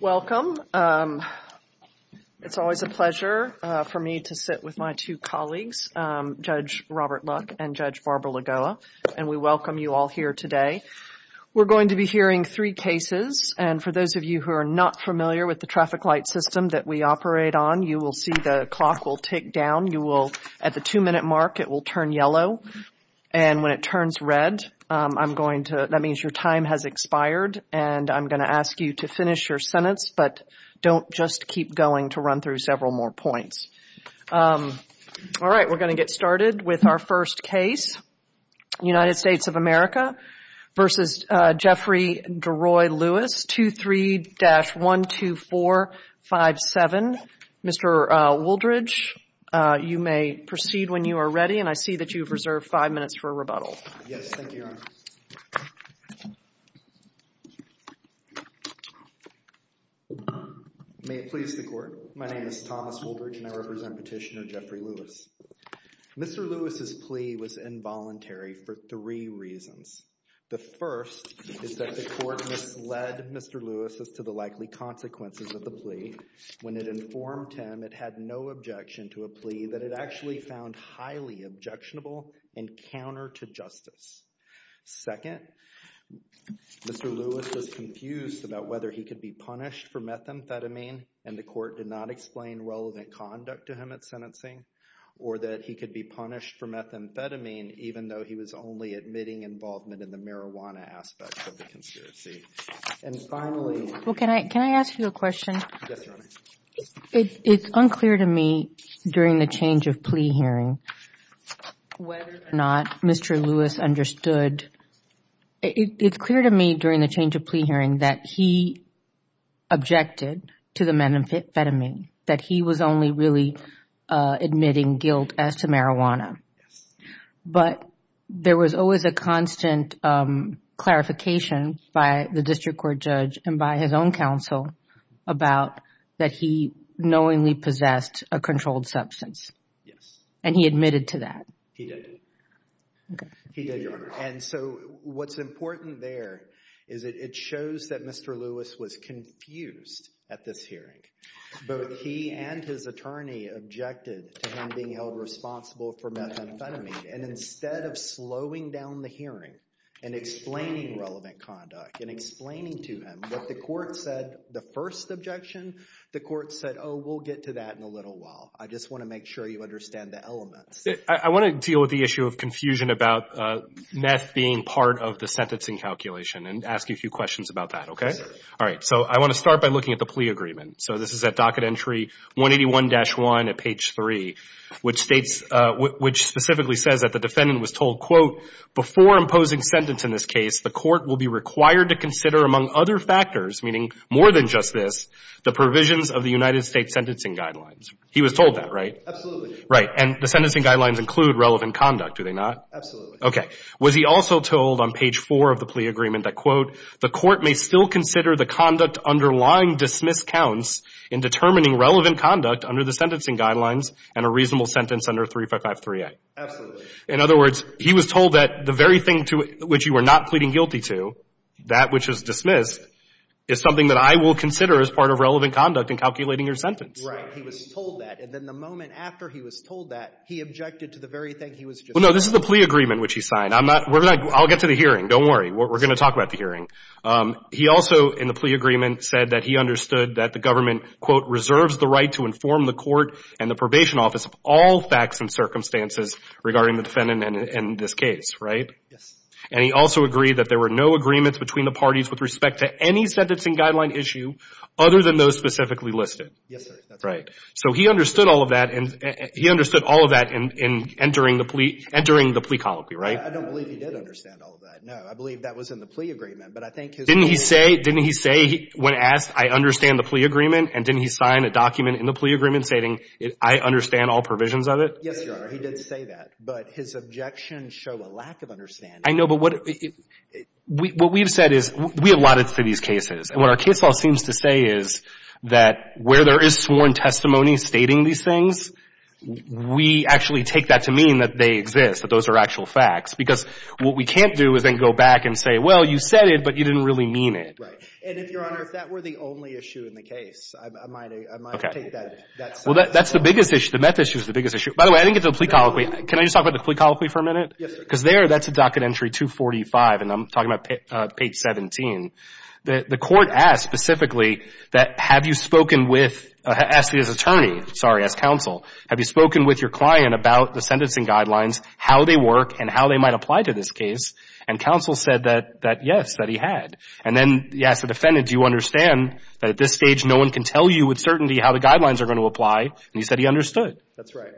Welcome. It's always a pleasure for me to sit with my two colleagues, Judge Robert Luck and Judge Barbara Lagoa, and we welcome you all here today. We're going to be hearing three cases, and for those of you who are not familiar with the traffic light system that we operate on, you will see the clock will tick down. At the two-minute mark, it will turn yellow, and when it turns red, that means your time has expired, and I'm going to ask you to finish your sentence, but don't just keep going to run through several more points. All right, we're going to get started with our first case, United States of America v. Jeffrey DeRoy Lewis, 23-12457. Mr. Wooldridge, you may proceed when you are ready, and I see that you've reserved five minutes for a rebuttal. Yes, thank you, Your Honor. May it please the Court? My name is Thomas Wooldridge, and I represent Petitioner Jeffrey Lewis. Mr. Lewis's plea was involuntary for three reasons. The first is that the Court misled Mr. Lewis as to the likely consequences of a plea. When it informed him, it had no objection to a plea that it actually found highly objectionable and counter to justice. Second, Mr. Lewis was confused about whether he could be punished for methamphetamine, and the Court did not explain relevant conduct to him at sentencing, or that he could be punished for methamphetamine even though he was only admitting involvement in the marijuana aspect of the conspiracy. And finally... Well, can I ask you a question? Yes, Your Honor. It's unclear to me during the change of plea hearing whether or not Mr. Lewis understood... It's clear to me during the change of plea hearing that he objected to the methamphetamine, that he was only really admitting guilt as to marijuana. But there was always a constant clarification by the District Court judge and by his own counsel about that he knowingly possessed a controlled substance. Yes. And he admitted to that. He did. He did, Your Honor. And so what's important there is that it shows that Mr. Lewis was confused at this hearing. Both he and his attorney objected to him being held responsible for methamphetamine. And instead of slowing down the hearing and explaining relevant conduct and explaining to him what the Court said the first objection, the Court said, oh, we'll get to that in a little while. I just want to make sure you understand the elements. I want to deal with the issue of confusion about meth being part of the sentencing calculation and ask you a few questions about that, okay? Yes, sir. All right. So I want to start by looking at the plea agreement. So this is at docket entry 181-1 at page 3, which states specifically says that the defendant was told, quote, before imposing sentence in this case, the Court will be required to consider among other factors, meaning more than just this, the provisions of the United States sentencing guidelines. He was told that, right? Absolutely. Right. And the sentencing guidelines include relevant conduct, do they not? Absolutely. Okay. Was he also told on page 4 of the plea agreement that, quote, the Court may still consider the conduct underlying dismiss counts in determining relevant conduct under the 3553A? Absolutely. In other words, he was told that the very thing to which you were not pleading guilty to, that which is dismissed, is something that I will consider as part of relevant conduct in calculating your sentence. Right. He was told that. And then the moment after he was told that, he objected to the very thing he was just told. Well, no, this is the plea agreement which he signed. I'm not, we're not, I'll get to the hearing. Don't worry. We're going to talk about the hearing. He also, in the plea agreement, said that he understood that the Government, quote, reserves the right to inform the Court and the Probation Office of all facts and circumstances regarding the defendant in this case. Right? Yes. And he also agreed that there were no agreements between the parties with respect to any sentencing guideline issue other than those specifically listed. Yes, sir. Right. So he understood all of that, and he understood all of that in entering the plea, entering the plea colloquy, right? I don't believe he did understand all of that. No, I believe that was in the plea agreement, but I think his opinion... Didn't he say, didn't he say when asked, I understand the plea agreement, and didn't he sign a document in the plea agreement stating, I understand all provisions of it? Yes, Your Honor, he did say that, but his objections show a lack of understanding. I know, but what we've said is, we allotted to these cases, and what our case law seems to say is that where there is sworn testimony stating these things, we actually take that to mean that they exist, that those are actual facts, because what we can't do is then go back and say, well, you said it, but you didn't really mean it. And if, Your Honor, if that were the only issue in the case, I might take that. Well, that's the biggest issue. The meth issue is the biggest issue. By the way, I didn't get to the plea colloquy. Can I just talk about the plea colloquy for a minute? Yes, sir. Because there, that's a docket entry 245, and I'm talking about page 17. The court asked specifically that, have you spoken with, asked as attorney, sorry, as counsel, have you spoken with your client about the sentencing guidelines, how they work, and how they might apply to this case? And counsel said that yes, that he had. And then he asked the defendant, do you understand that at this stage no one can tell you with certainty how the guidelines are going to apply? And he said he understood. That's right.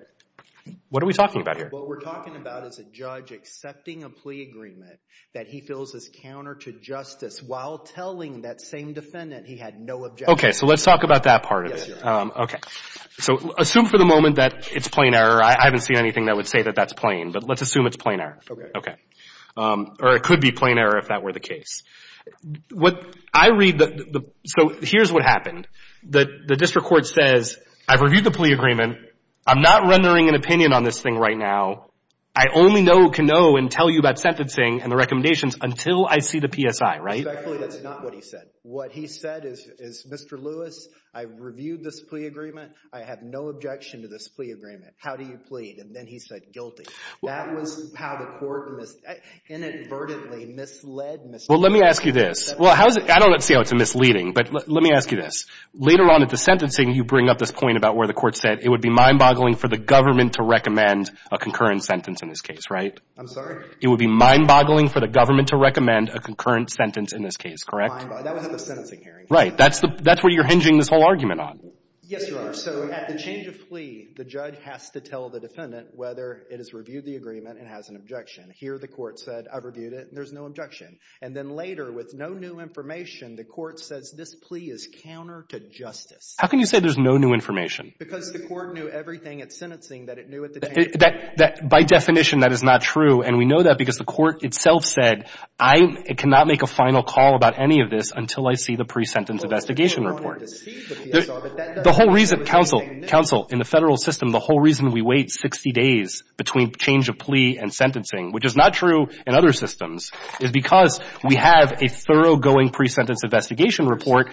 What are we talking about here? What we're talking about is a judge accepting a plea agreement that he feels is counter to justice while telling that same defendant he had no objection. Okay. So let's talk about that part of it. Yes, Your Honor. Okay. So assume for the moment that it's plain error. I haven't seen anything that would say that that's plain, but let's assume it's plain error. Okay. Or it could be plain error if that were the case. What I read, so here's what happened. The district court says, I've reviewed the plea agreement. I'm not rendering an opinion on this thing right now. I only can know and tell you about sentencing and the recommendations until I see the PSI, right? Exactly. That's not what he said. What he said is, Mr. Lewis, I've reviewed this plea agreement. I have no objection to this plea agreement. How do you plead? And then he said guilty. That was how the court inadvertently misled Mr. Lewis. Well, let me ask you this. I don't see how it's misleading, but let me ask you this. Later on at the sentencing, you bring up this point about where the court said it would be mind-boggling for the government to recommend a concurrent sentence in this case, right? I'm sorry? It would be mind-boggling for the government to recommend a concurrent sentence in this case, correct? Mind-boggling. That was at the sentencing hearing. Right. That's where you're hinging this whole argument on. Yes, Your Honor. So at the change of plea, the judge has to tell the defendant whether it has reviewed the agreement and has an objection. Here, the court said, I've reviewed it, and there's no objection. And then later, with no new information, the court says this plea is counter to justice. How can you say there's no new information? Because the court knew everything at sentencing that it knew at the change of plea. By definition, that is not true. And we know that because the court itself said, I cannot make a final call about any of this until I see the pre-sentence investigation report. Well, if you don't want to deceive the PSI, but that doesn't mean it's the same news. Counsel, in the federal system, the whole reason we wait 60 days between change of plea and sentencing, which is not true in other systems, is because we have a thoroughgoing pre-sentence investigation report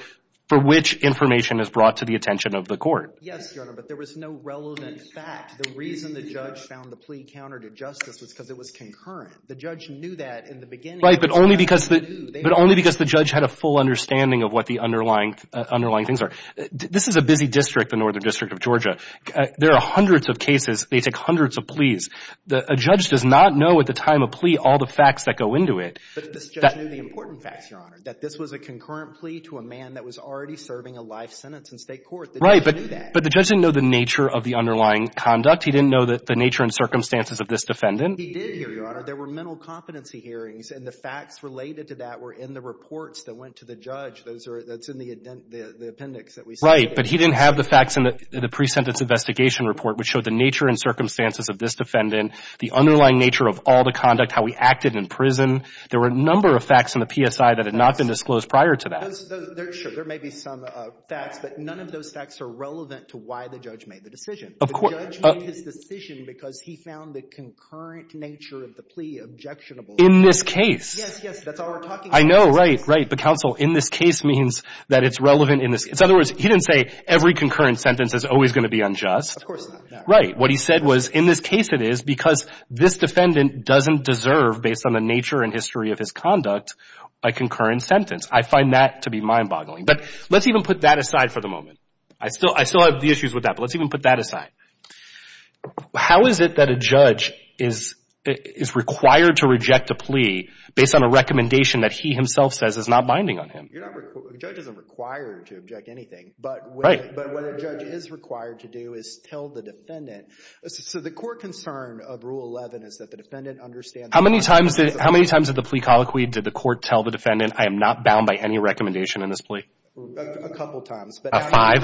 for which information is brought to the attention of the court. Yes, Your Honor. But there was no relevant fact. The reason the judge found the plea counter to justice was because it was concurrent. The judge knew that in the beginning. Right. But only because the judge had a full understanding of what the underlying things are. This is a busy district, the northern district of Georgia. There are hundreds of cases. They take hundreds of pleas. A judge does not know at the time of plea all the facts that go into it. But this judge knew the important facts, Your Honor, that this was a concurrent plea to a man that was already serving a life sentence in state court. The judge knew that. Right. But the judge didn't know the nature of the underlying conduct. He didn't know the nature and circumstances of this defendant. He did, Your Honor. There were mental competency hearings. And the facts related to that were in the reports that went to the judge. That's in the appendix that we see here. Right. But he didn't have the facts in the pre-sentence investigation report which showed the nature and circumstances of this defendant, the underlying nature of all the conduct, how he acted in prison. There were a number of facts in the PSI that had not been disclosed prior to that. Sure. There may be some facts. But none of those facts are relevant to why the judge made the decision. Of course. The judge made his decision because he found the concurrent nature of the plea objectionable. In this case. Yes, yes. That's I know. Right. Right. The counsel in this case means that it's relevant in this. In other words, he didn't say every concurrent sentence is always going to be unjust. Of course. Right. What he said was in this case it is because this defendant doesn't deserve, based on the nature and history of his conduct, a concurrent sentence. I find that to be mind boggling. But let's even put that aside for the moment. I still I still have the issues with that. But let's even put that aside. How is it that a judge is is required to reject a plea based on a recommendation that he himself says is not binding on him? You're not. A judge isn't required to object anything. Right. But what a judge is required to do is tell the defendant. So the core concern of Rule 11 is that the defendant understands. How many times, how many times of the plea colloquy did the court tell the defendant I am not bound by any recommendation in this plea? A couple of times. About five?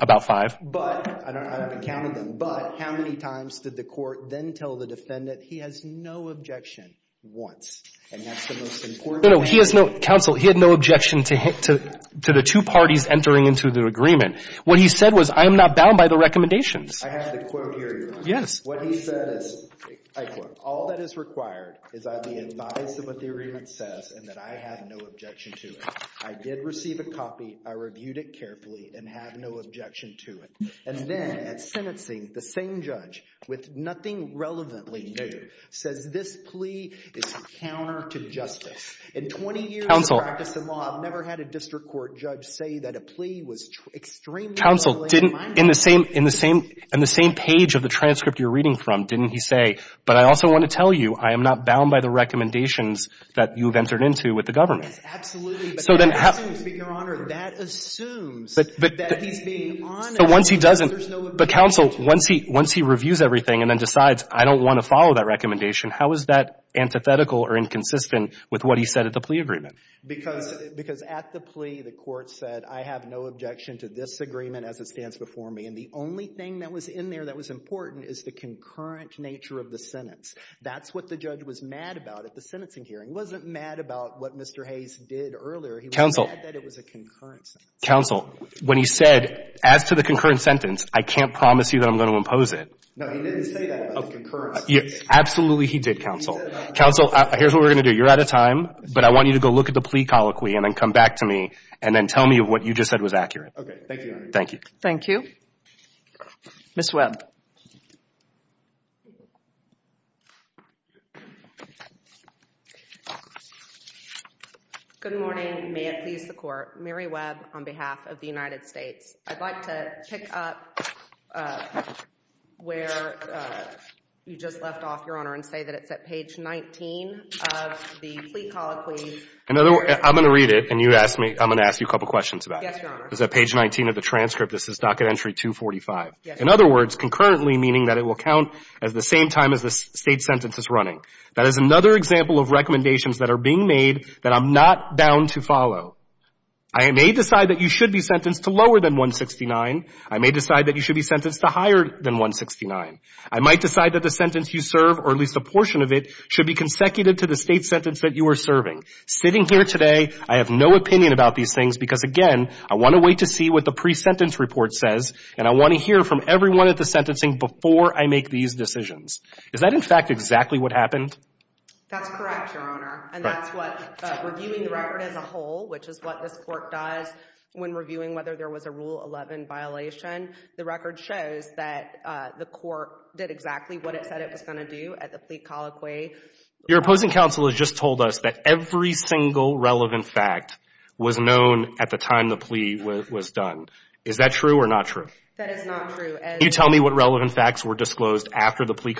About five. But I counted them. But how many times did the court then tell the defendant he has no objection once? And that's the most important. No, no. He has no counsel. He had no objection to the two parties entering into the agreement. What he said was I am not bound by the recommendations. I have the quote here. Yes. What he said is, I quote, all that is required is I'd be advised of what the agreement says and that I had no objection to it. I did receive a copy. I reviewed it carefully and have no objection to it. And then at sentencing, the same judge with nothing relevantly new says this plea is counter to justice. In 20 years of practice in law, I've never had a district court judge say that a plea was extremely. Counsel didn't, in the same, in the same, in the same page of the transcript you're reading from, didn't he say, but I also want to tell you I am not bound by the recommendations that you've entered into with the government. Absolutely. So then. Your Honor, that assumes that he's being honest. But once he doesn't, the counsel, once he, once he reviews everything and then decides I don't want to follow that recommendation, how is that antithetical or inconsistent with what he said at the plea agreement? Because, because at the plea, the court said I have no objection to this agreement as it stands before me. And the only thing that was in there that was important is the concurrent nature of the sentence. That's what the judge was mad about at the sentencing hearing. He wasn't mad about what Mr. Hayes did earlier. He was mad that it was a concurrent sentence. Counsel, when he said, as to the concurrent sentence, I can't promise you that I'm going to impose it. No, he didn't say that about the concurrent sentence. Absolutely he did, counsel. Counsel, here's what we're going to do. You're out of time, but I want you to go look at the plea colloquy and then come back to me and then tell me what you just said was accurate. Okay. Thank you, Your Honor. Thank you. Thank you. Ms. Webb. Good morning. May it please the Court. Mary Webb on behalf of the United States. I'd like to pick up where you just left off, Your Honor, and say that it's at page 19 of the plea colloquy. In other words, I'm going to read it and you ask me, I'm going to ask you a couple questions about it. Yes, Your Honor. It's at page 19 of the transcript. This is docket entry 245. Yes. In other words, concurrently meaning that it will count at the same time as the State sentence is running. That is another example of recommendation made that I'm not bound to follow. I may decide that you should be sentenced to lower than 169. I may decide that you should be sentenced to higher than 169. I might decide that the sentence you serve, or at least a portion of it, should be consecutive to the State sentence that you are serving. Sitting here today, I have no opinion about these things because, again, I want to wait to see what the pre-sentence report says, and I want to hear from everyone at the sentencing before I make these decisions. Is that, in fact, exactly what happened? That's correct, Your Honor. And that's what, reviewing the record as a whole, which is what this court does when reviewing whether there was a Rule 11 violation. The record shows that the court did exactly what it said it was going to do at the plea colloquy. Your opposing counsel has just told us that every single relevant fact was known at the time the plea was done. Is that true or not true? That is not true. Can you tell me what relevant facts were disclosed after the plea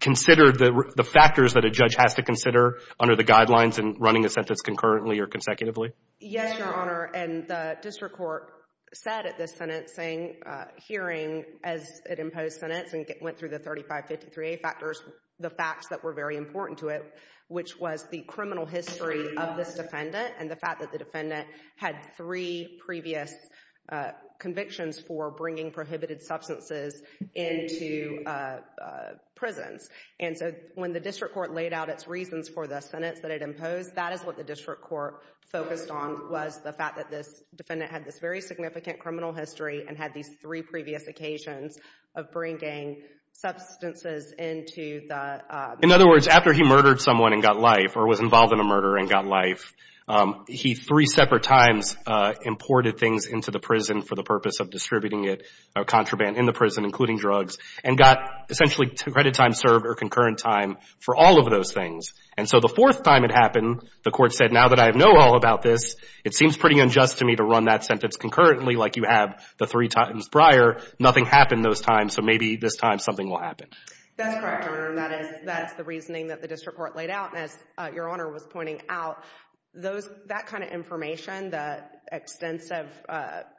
considered the factors that a judge has to consider under the guidelines in running a sentence concurrently or consecutively? Yes, Your Honor. And the district court said at the sentencing hearing as it imposed sentencing, went through the 3553A factors, the facts that were very important to it, which was the criminal history of this defendant and the fact that the defendant had three previous convictions for bringing prohibited substances into prisons. And so when the district court laid out its reasons for the sentence that it imposed, that is what the district court focused on, was the fact that this defendant had this very significant criminal history and had these three previous occasions of bringing substances into the... In other words, after he murdered someone and got life or was involved in a murder and got life, he three separate times imported things into the prison for the purpose of distributing contraband in the prison, including drugs, and got essentially credit time served or concurrent time for all of those things. And so the fourth time it happened, the court said, now that I know all about this, it seems pretty unjust to me to run that sentence concurrently like you have the three times prior. Nothing happened those times, so maybe this time something will happen. That's correct, Your Honor. That is the reasoning that the district court laid out. And as Your Honor was pointing out, that kind of information, the extensive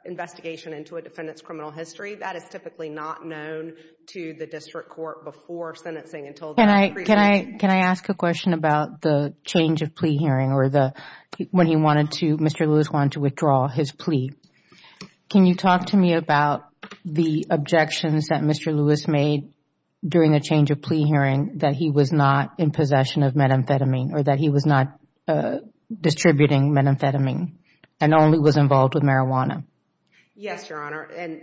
investigation into a criminal history, that is typically not known to the district court before sentencing until... Can I ask a question about the change of plea hearing or when Mr. Lewis wanted to withdraw his plea? Can you talk to me about the objections that Mr. Lewis made during the change of plea hearing that he was not in possession of methamphetamine or that he was not distributing methamphetamine and only was involved with marijuana? Yes, Your Honor. And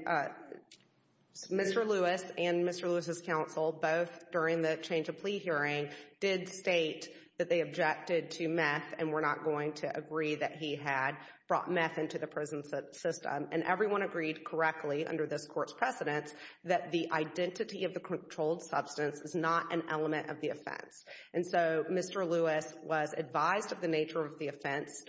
Mr. Lewis and Mr. Lewis's counsel, both during the change of plea hearing, did state that they objected to meth and were not going to agree that he had brought meth into the prison system. And everyone agreed correctly under this court's precedence that the identity of the controlled substance is not an element of the offense. And so Mr. Lewis was advised of the offense.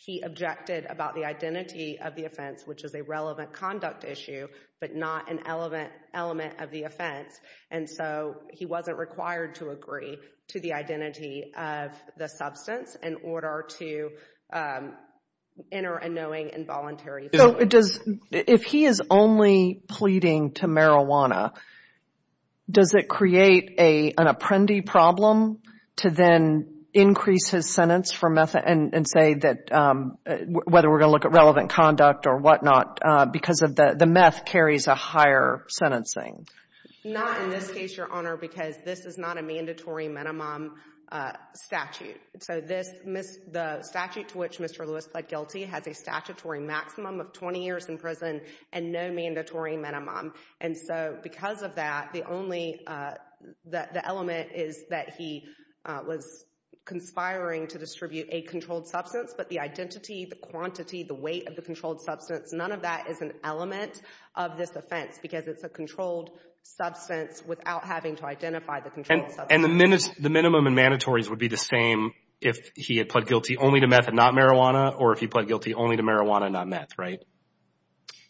He objected about the identity of the offense, which is a relevant conduct issue, but not an element of the offense. And so he wasn't required to agree to the identity of the substance in order to enter a knowing and voluntary plea. So if he is only pleading to marijuana, does it create an apprendee problem to then increase his sentence for meth and say that whether we're going to look at relevant conduct or whatnot because the meth carries a higher sentencing? Not in this case, Your Honor, because this is not a mandatory minimum statute. So the statute to which Mr. Lewis pled guilty has a statutory maximum of 20 years in and no mandatory minimum. And so because of that, the element is that he was conspiring to distribute a controlled substance, but the identity, the quantity, the weight of the controlled substance, none of that is an element of this offense because it's a controlled substance without having to identify the controlled substance. And the minimum and mandatories would be the same if he had pled guilty only to meth and not marijuana or if he pled guilty only to marijuana and not meth, right?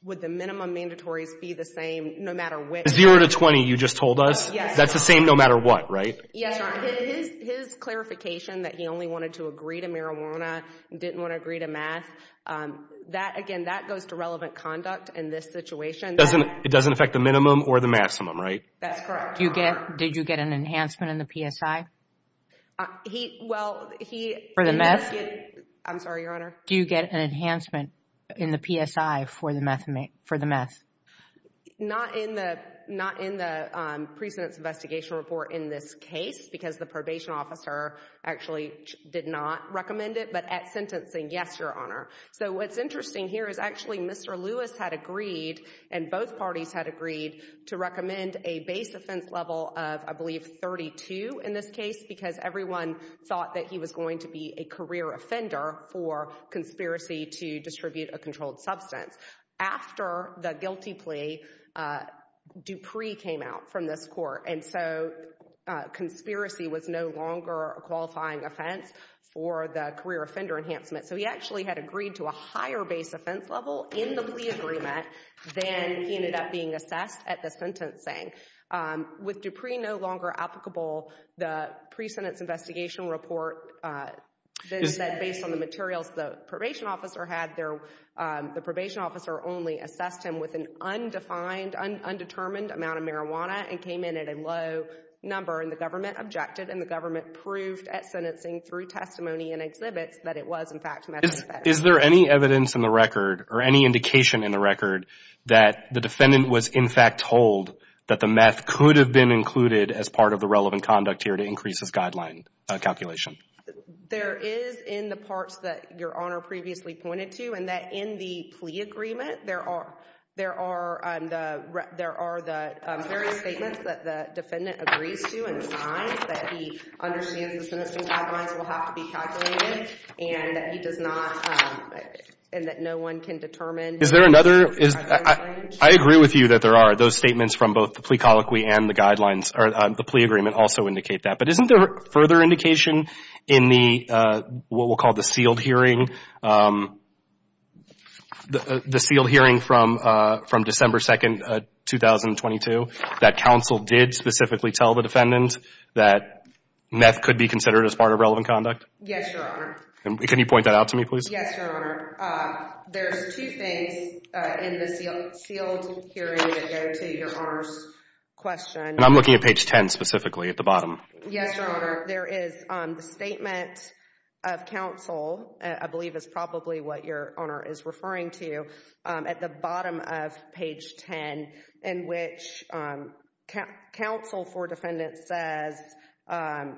Would the minimum mandatories be the same no matter which? Zero to 20, you just told us. Yes. That's the same no matter what, right? Yes, Your Honor. His clarification that he only wanted to agree to marijuana, didn't want to agree to meth, again, that goes to relevant conduct in this situation. It doesn't affect the minimum or the maximum, right? That's correct. Did you get an enhancement in the PSI? Well, he... For the meth? I'm sorry, Your Honor. Do you get an enhancement in the PSI for the meth? Not in the precedent's investigation report in this case because the probation officer actually did not recommend it, but at sentencing, yes, Your Honor. So what's interesting here is actually Mr. Lewis had agreed and both parties had agreed to recommend a base offense level of, I believe, 32 in this case because everyone thought that he was going to be a career offender for conspiracy to distribute a controlled substance. After the guilty plea, Dupree came out from this court and so conspiracy was no longer a qualifying offense for the career offender enhancement. So he actually had agreed to a higher base offense level in the plea agreement than he ended up being assessed at the sentencing. With Dupree no longer applicable, the precedent's investigation report based on the materials the probation officer had, the probation officer only assessed him with an undefined, undetermined amount of marijuana and came in at a low number and the government objected and the government proved at sentencing through testimony and exhibits that it was in fact meth. Is there any evidence in the record or any indication in the record that the defendant was in fact told that the meth could have been included as part of the relevant conduct here to increase his guideline calculation? There is in the parts that Your Honor previously pointed to and that in the plea agreement, there are the various statements that the defendant agrees to and signs that he understands the sentencing guidelines will have to be calculated and that he does not, and that no one can determine. Is there another, I agree with you that there are those statements from both the plea colloquy and the guidelines, or the plea agreement also indicate that. But isn't there further indication in the, what we'll call the sealed hearing, the sealed hearing from December 2, 2022, that counsel did specifically tell the defendant that meth could be considered as part of relevant conduct? Yes, Your Honor. Can you point that out to me, please? Yes, Your Honor. There's two things in the sealed hearing that go to Your Honor's question. And I'm looking at page 10 specifically at the bottom. Yes, Your Honor. There is the statement of counsel, I believe is probably what Your Honor is referring to, at the bottom of page 10 in which counsel for defendant says, and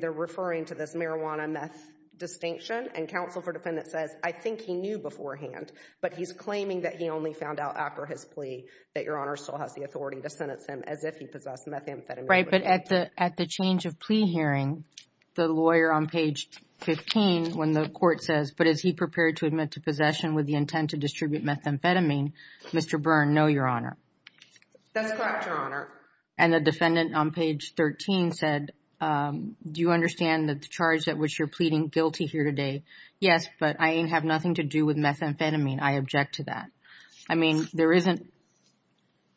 they're referring to this marijuana meth distinction, and counsel for defendant says, I think he knew beforehand, but he's claiming that he only found out after his plea that Your Honor still has the authority to sentence him as if he possessed methamphetamine. Right, but at the change of plea hearing, the lawyer on page 15 when the court says, but is he prepared to admit to possession with the intent to distribute methamphetamine, Mr. Byrne, no, Your Honor. That's correct, Your Honor. And the defendant on page 13 said, do you understand that the charge at which you're pleading guilty here today? Yes, but I have nothing to do with methamphetamine. I object to that. I mean, there isn't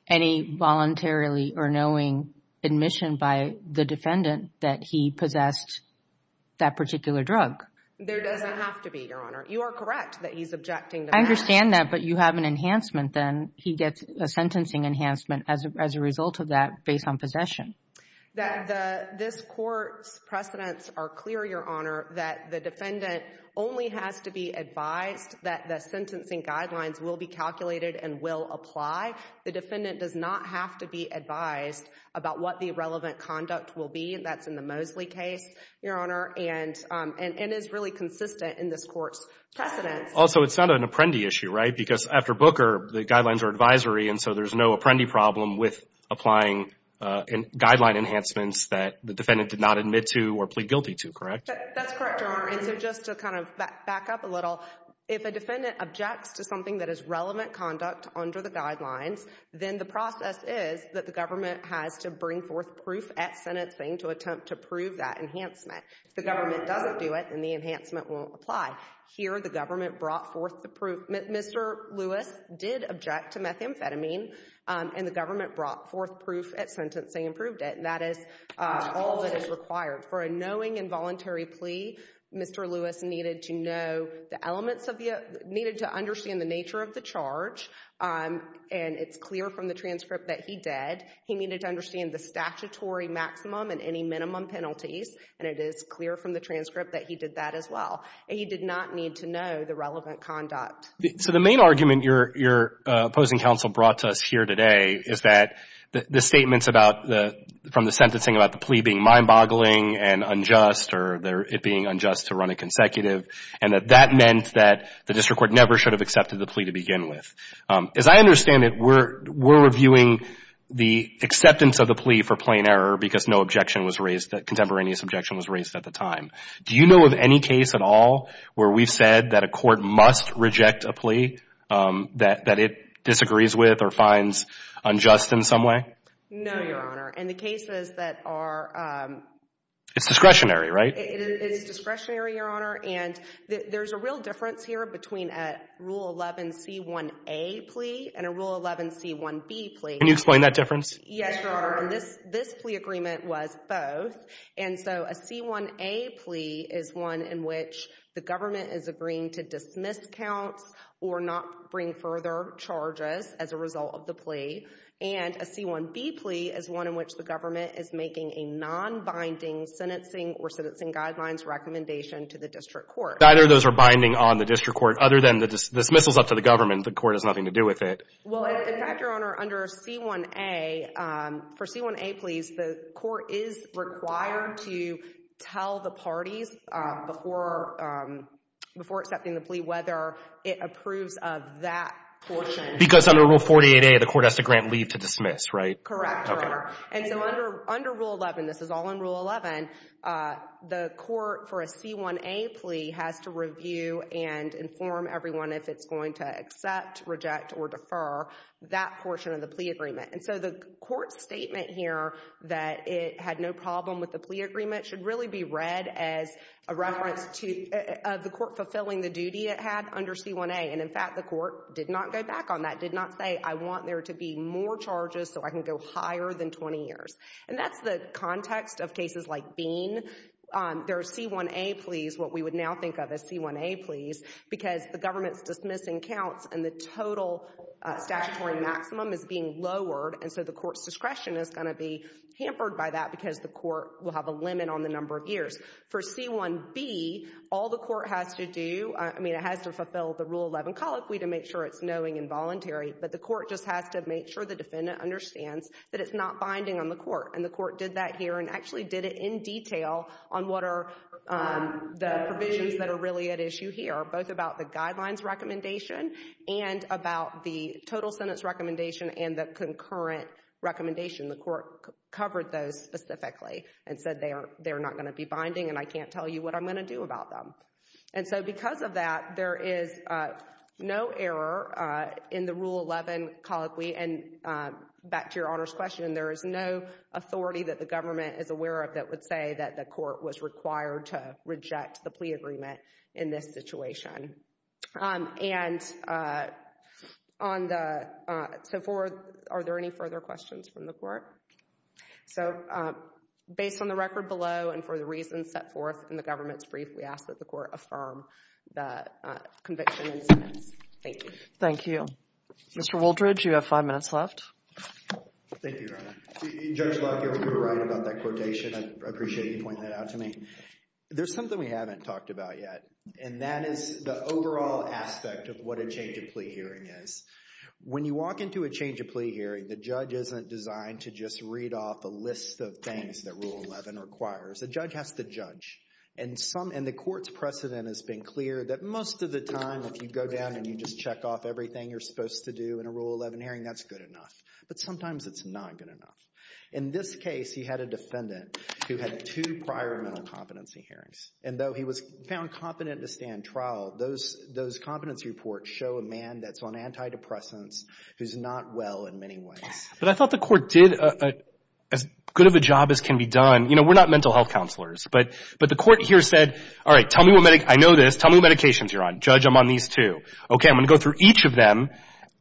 any voluntarily or knowing admission by the defendant that he possessed that particular drug. There doesn't have to be, Your Honor. You are correct that he's objecting to that. I understand that, but you have an enhancement then. He gets a sentencing enhancement as a result of that based on possession. That this court's precedents are clear, Your Honor, that the defendant only has to be advised that the sentencing guidelines will be calculated and will apply. The defendant does not have to be advised about what the relevant conduct will be. That's in the Mosley case, Your Honor, and is really consistent in this court's precedents. Also, it's not an apprendi issue, right? After Booker, the guidelines are advisory, and so there's no apprendi problem with applying guideline enhancements that the defendant did not admit to or plead guilty to, correct? That's correct, Your Honor, and so just to kind of back up a little, if a defendant objects to something that is relevant conduct under the guidelines, then the process is that the government has to bring forth proof at sentencing to attempt to prove that enhancement. If the government doesn't do it, then the enhancement won't apply. Here, the government brought forth the proof. Mr. Lewis did object to methamphetamine, and the government brought forth proof at sentencing and proved it, and that is all that is required. For a knowing involuntary plea, Mr. Lewis needed to know the elements of the, needed to understand the nature of the charge, and it's clear from the transcript that he did. He needed to understand the statutory maximum and any minimum penalties, and it is clear from the transcript that he did that as well. He did not need to know the relevant conduct. So the main argument your opposing counsel brought to us here today is that the statements about the, from the sentencing about the plea being mind-boggling and unjust, or it being unjust to run it consecutive, and that that meant that the district court never should have accepted the plea to begin with. As I understand it, we're reviewing the acceptance of the plea for plain error because no objection was raised, contemporaneous objection was raised at the time. Do you know of any case at all where we've said that a court must reject a plea that it disagrees with or finds unjust in some way? No, your Honor. In the cases that are... It's discretionary, right? It is discretionary, your Honor, and there's a real difference here between a Rule 11C1A plea and a Rule 11C1B plea. Can you explain that difference? Yes, your Honor, and this plea agreement was both, and so a C1A plea is one in which the government is agreeing to dismiss counts or not bring further charges as a result of the plea, and a C1B plea is one in which the government is making a non-binding sentencing or sentencing guidelines recommendation to the district court. Either of those are binding on the district court, other than the dismissals up to the government, the court has nothing to do with it. Well, in fact, your Honor, under C1A, for C1A pleas, the court is required to tell the parties before accepting the plea whether it approves of that portion. Because under Rule 48A, the court has to grant leave to dismiss, right? Correct, your Honor. And so under Rule 11, this is all in Rule 11, the court for a C1A plea has to review and inform everyone if it's going to accept, reject, or defer that portion of the plea agreement. And so the court's statement here that it had no problem with the plea agreement should really be read as a reference to the court fulfilling the duty it had under C1A. And in fact, the court did not go back on that, did not say, I want there to be more charges so I can go higher than 20 years. And that's the context of cases like Bean. There are C1A pleas, what we would now think of as C1A pleas, because the government's dismissing counts and the total statutory maximum is being lowered, and so the court's discretion is going to be hampered by that because the court will have a limit on the number of years. For C1B, all the court has to do, I mean, it has to fulfill the Rule 11 colloquy to make sure it's knowing and voluntary, but the court just has to make sure the defendant understands that it's not binding on the court. And the court did that here and actually did it in detail on what are the provisions that are really at issue here, both about the guidelines recommendation and about the total sentence recommendation and the concurrent recommendation. The court covered those specifically and said they are not going to be binding and I can't tell you what I'm going to do about them. And so because of that, there is no error in the Rule 11 colloquy. And back to Your Honor's question, there is no authority that the government is aware of that would say that the court was required to reject the plea agreement in this situation. And so are there any further questions from the court? So based on the record below and for the reasons set forth in the government's brief, we ask that the court affirm the conviction and sentence. Thank you. Thank you. Mr. Wooldridge, you have five minutes left. Thank you, Your Honor. Judge Lockyer, you were right about that quotation. I appreciate you pointing that out to me. There's something we haven't talked about yet, and that is the overall aspect of what a change of plea hearing is. When you walk into a change of plea hearing, the judge isn't designed to just read off a list of things that Rule 11 requires. The judge has to judge. And the court's precedent has been clear that most of the time if you go down and you just check off everything you're supposed to do in a Rule 11 hearing, that's good enough. But sometimes it's not good enough. In this case, he had a defendant who had two prior mental competency hearings. And though he was found competent to stand trial, those competency reports show a man that's on antidepressants who's not well in many ways. But I thought the court did as good of a job as can be done. You know, we're not mental health counselors, but the court here said, all right, tell me what medic—I know this. Tell me what medications you're on. Judge, I'm on these two. Okay, I'm going to go through each of them.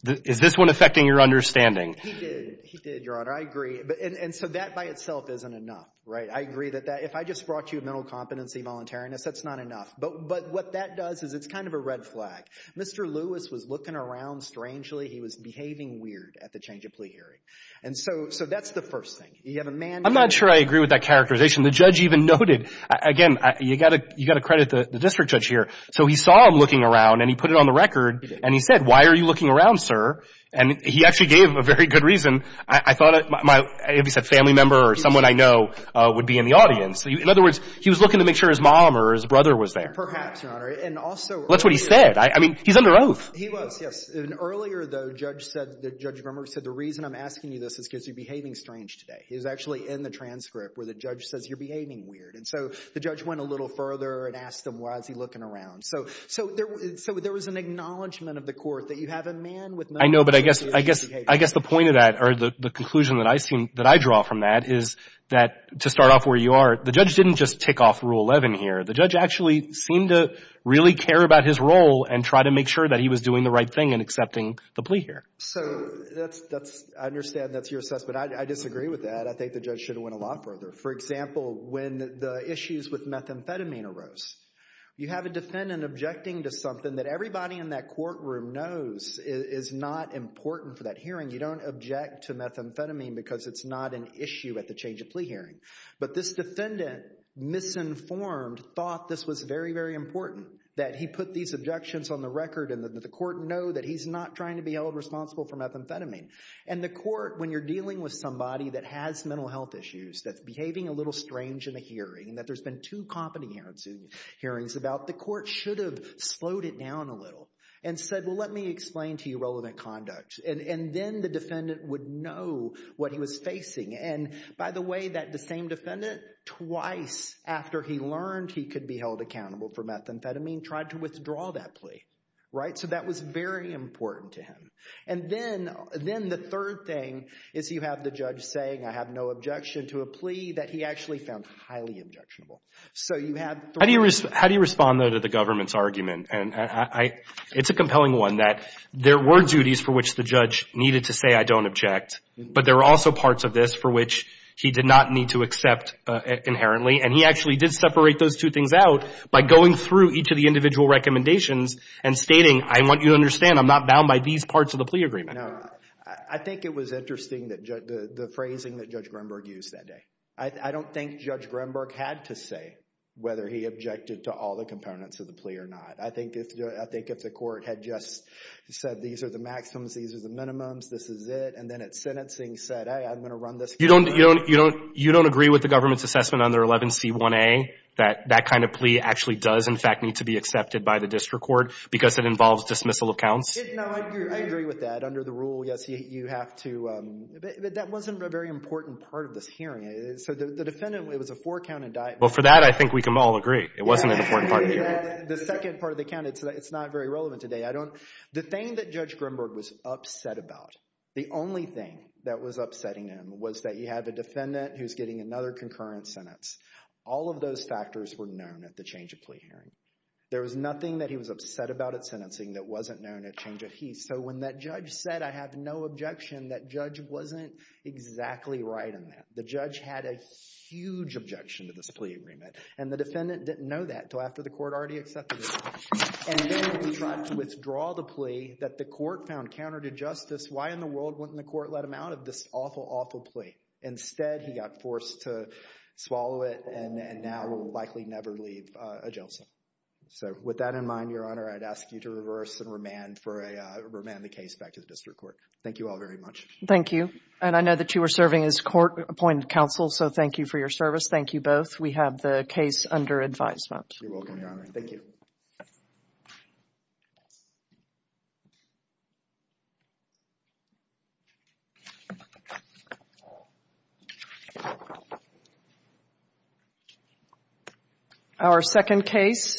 Is this one affecting your understanding? He did. He did, Your Honor. I agree. And so that by itself isn't enough, right? I agree that if I just brought you mental competency, voluntariness, that's not enough. But what that does is it's kind of a red flag. Mr. Lewis was looking around strangely. He was behaving weird at the change of plea hearing. And so that's the first thing. You have a man— I'm not sure I agree with that characterization. The judge even noted—again, you've got to credit the district judge here. So he saw him looking around, and he put it on the record. And he said, why are you looking around, sir? And he actually gave a very good reason. I thought my—if he said family member or someone I know would be in the audience. In other words, he was looking to make sure his mom or his brother was there. Perhaps, Your Honor. And also— That's what he said. I mean, he's under oath. He was, yes. And earlier, though, the judge said—the judge said, the reason I'm asking you this is because you're behaving strange today. He was actually in the transcript where the judge says you're behaving weird. And so the judge went a little further and asked him, why is he looking around? So there was an acknowledgment of the court that you have a man with— I know. But I guess the point of that, or the conclusion that I draw from that is that, to start off where you are, the judge didn't just tick off Rule 11 here. The judge actually seemed to really care about his role and try to make sure that he was doing the right thing in accepting the plea here. So that's—I understand that's your assessment. I disagree with that. I think the judge should have went a lot further. For example, when the issues with methamphetamine arose, you have a defendant objecting to something that everybody in that courtroom knows is not important for that hearing. You don't object to methamphetamine because it's not an issue at the change-of-plea hearing. But this defendant, misinformed, thought this was very, very important that he put these objections on the record and that the court know that he's not trying to be held responsible for methamphetamine. And the court, when you're dealing with somebody that has mental health issues, that's behaving a little strange in a hearing, that there's been two competent hearings about, the court should have slowed it down a little and said, well, let me explain to you relevant conduct. And then the defendant would know what he was facing. And by the way, that same defendant, twice after he learned he could be held accountable for methamphetamine, tried to withdraw that plea, right? So that was very important to him. And then the third thing is you have the judge saying, I have no objection to a plea that he actually found highly objectionable. So you have three. How do you respond, though, to the government's argument? And it's a compelling one that there were duties for which the judge needed to say, I don't object. But there were also parts of this for which he did not need to accept inherently. And he actually did separate those two things out by going through each of the individual and stating, I want you to understand, I'm not bound by these parts of the plea agreement. No, I think it was interesting, the phrasing that Judge Greenberg used that day. I don't think Judge Greenberg had to say whether he objected to all the components of the plea or not. I think if the court had just said, these are the maximums, these are the minimums, this is it, and then at sentencing said, hey, I'm going to run this case. You don't agree with the government's assessment under 11C1A that that kind of plea actually does, in fact, need to be accepted by the district court because it involves dismissal of counts? No, I agree with that. Under the rule, yes, you have to, but that wasn't a very important part of this hearing. So the defendant, it was a four-count indictment. Well, for that, I think we can all agree. It wasn't an important part of the hearing. The second part of the count, it's not very relevant today. I don't, the thing that Judge Greenberg was upset about, the only thing that was upsetting him was that you have a defendant who's getting another concurrent sentence. All of those factors were known at the change of plea hearing. There was nothing that he was upset about at sentencing that wasn't known at change of he. So when that judge said, I have no objection, that judge wasn't exactly right on that. The judge had a huge objection to this plea agreement, and the defendant didn't know that until after the court already accepted it. And then he tried to withdraw the plea that the court found counter to justice. Why in the world wouldn't the court let him out of this awful, awful plea? Instead, he got forced to swallow it, and now will likely never leave a jail cell. So with that in mind, Your Honor, I'd ask you to reverse and remand for a, remand the case back to the district court. Thank you all very much. Thank you. And I know that you were serving as court-appointed counsel, so thank you for your service. Thank you both. We have the case under advisement. You're welcome, Your Honor. Thank you. Thank you. Our second case.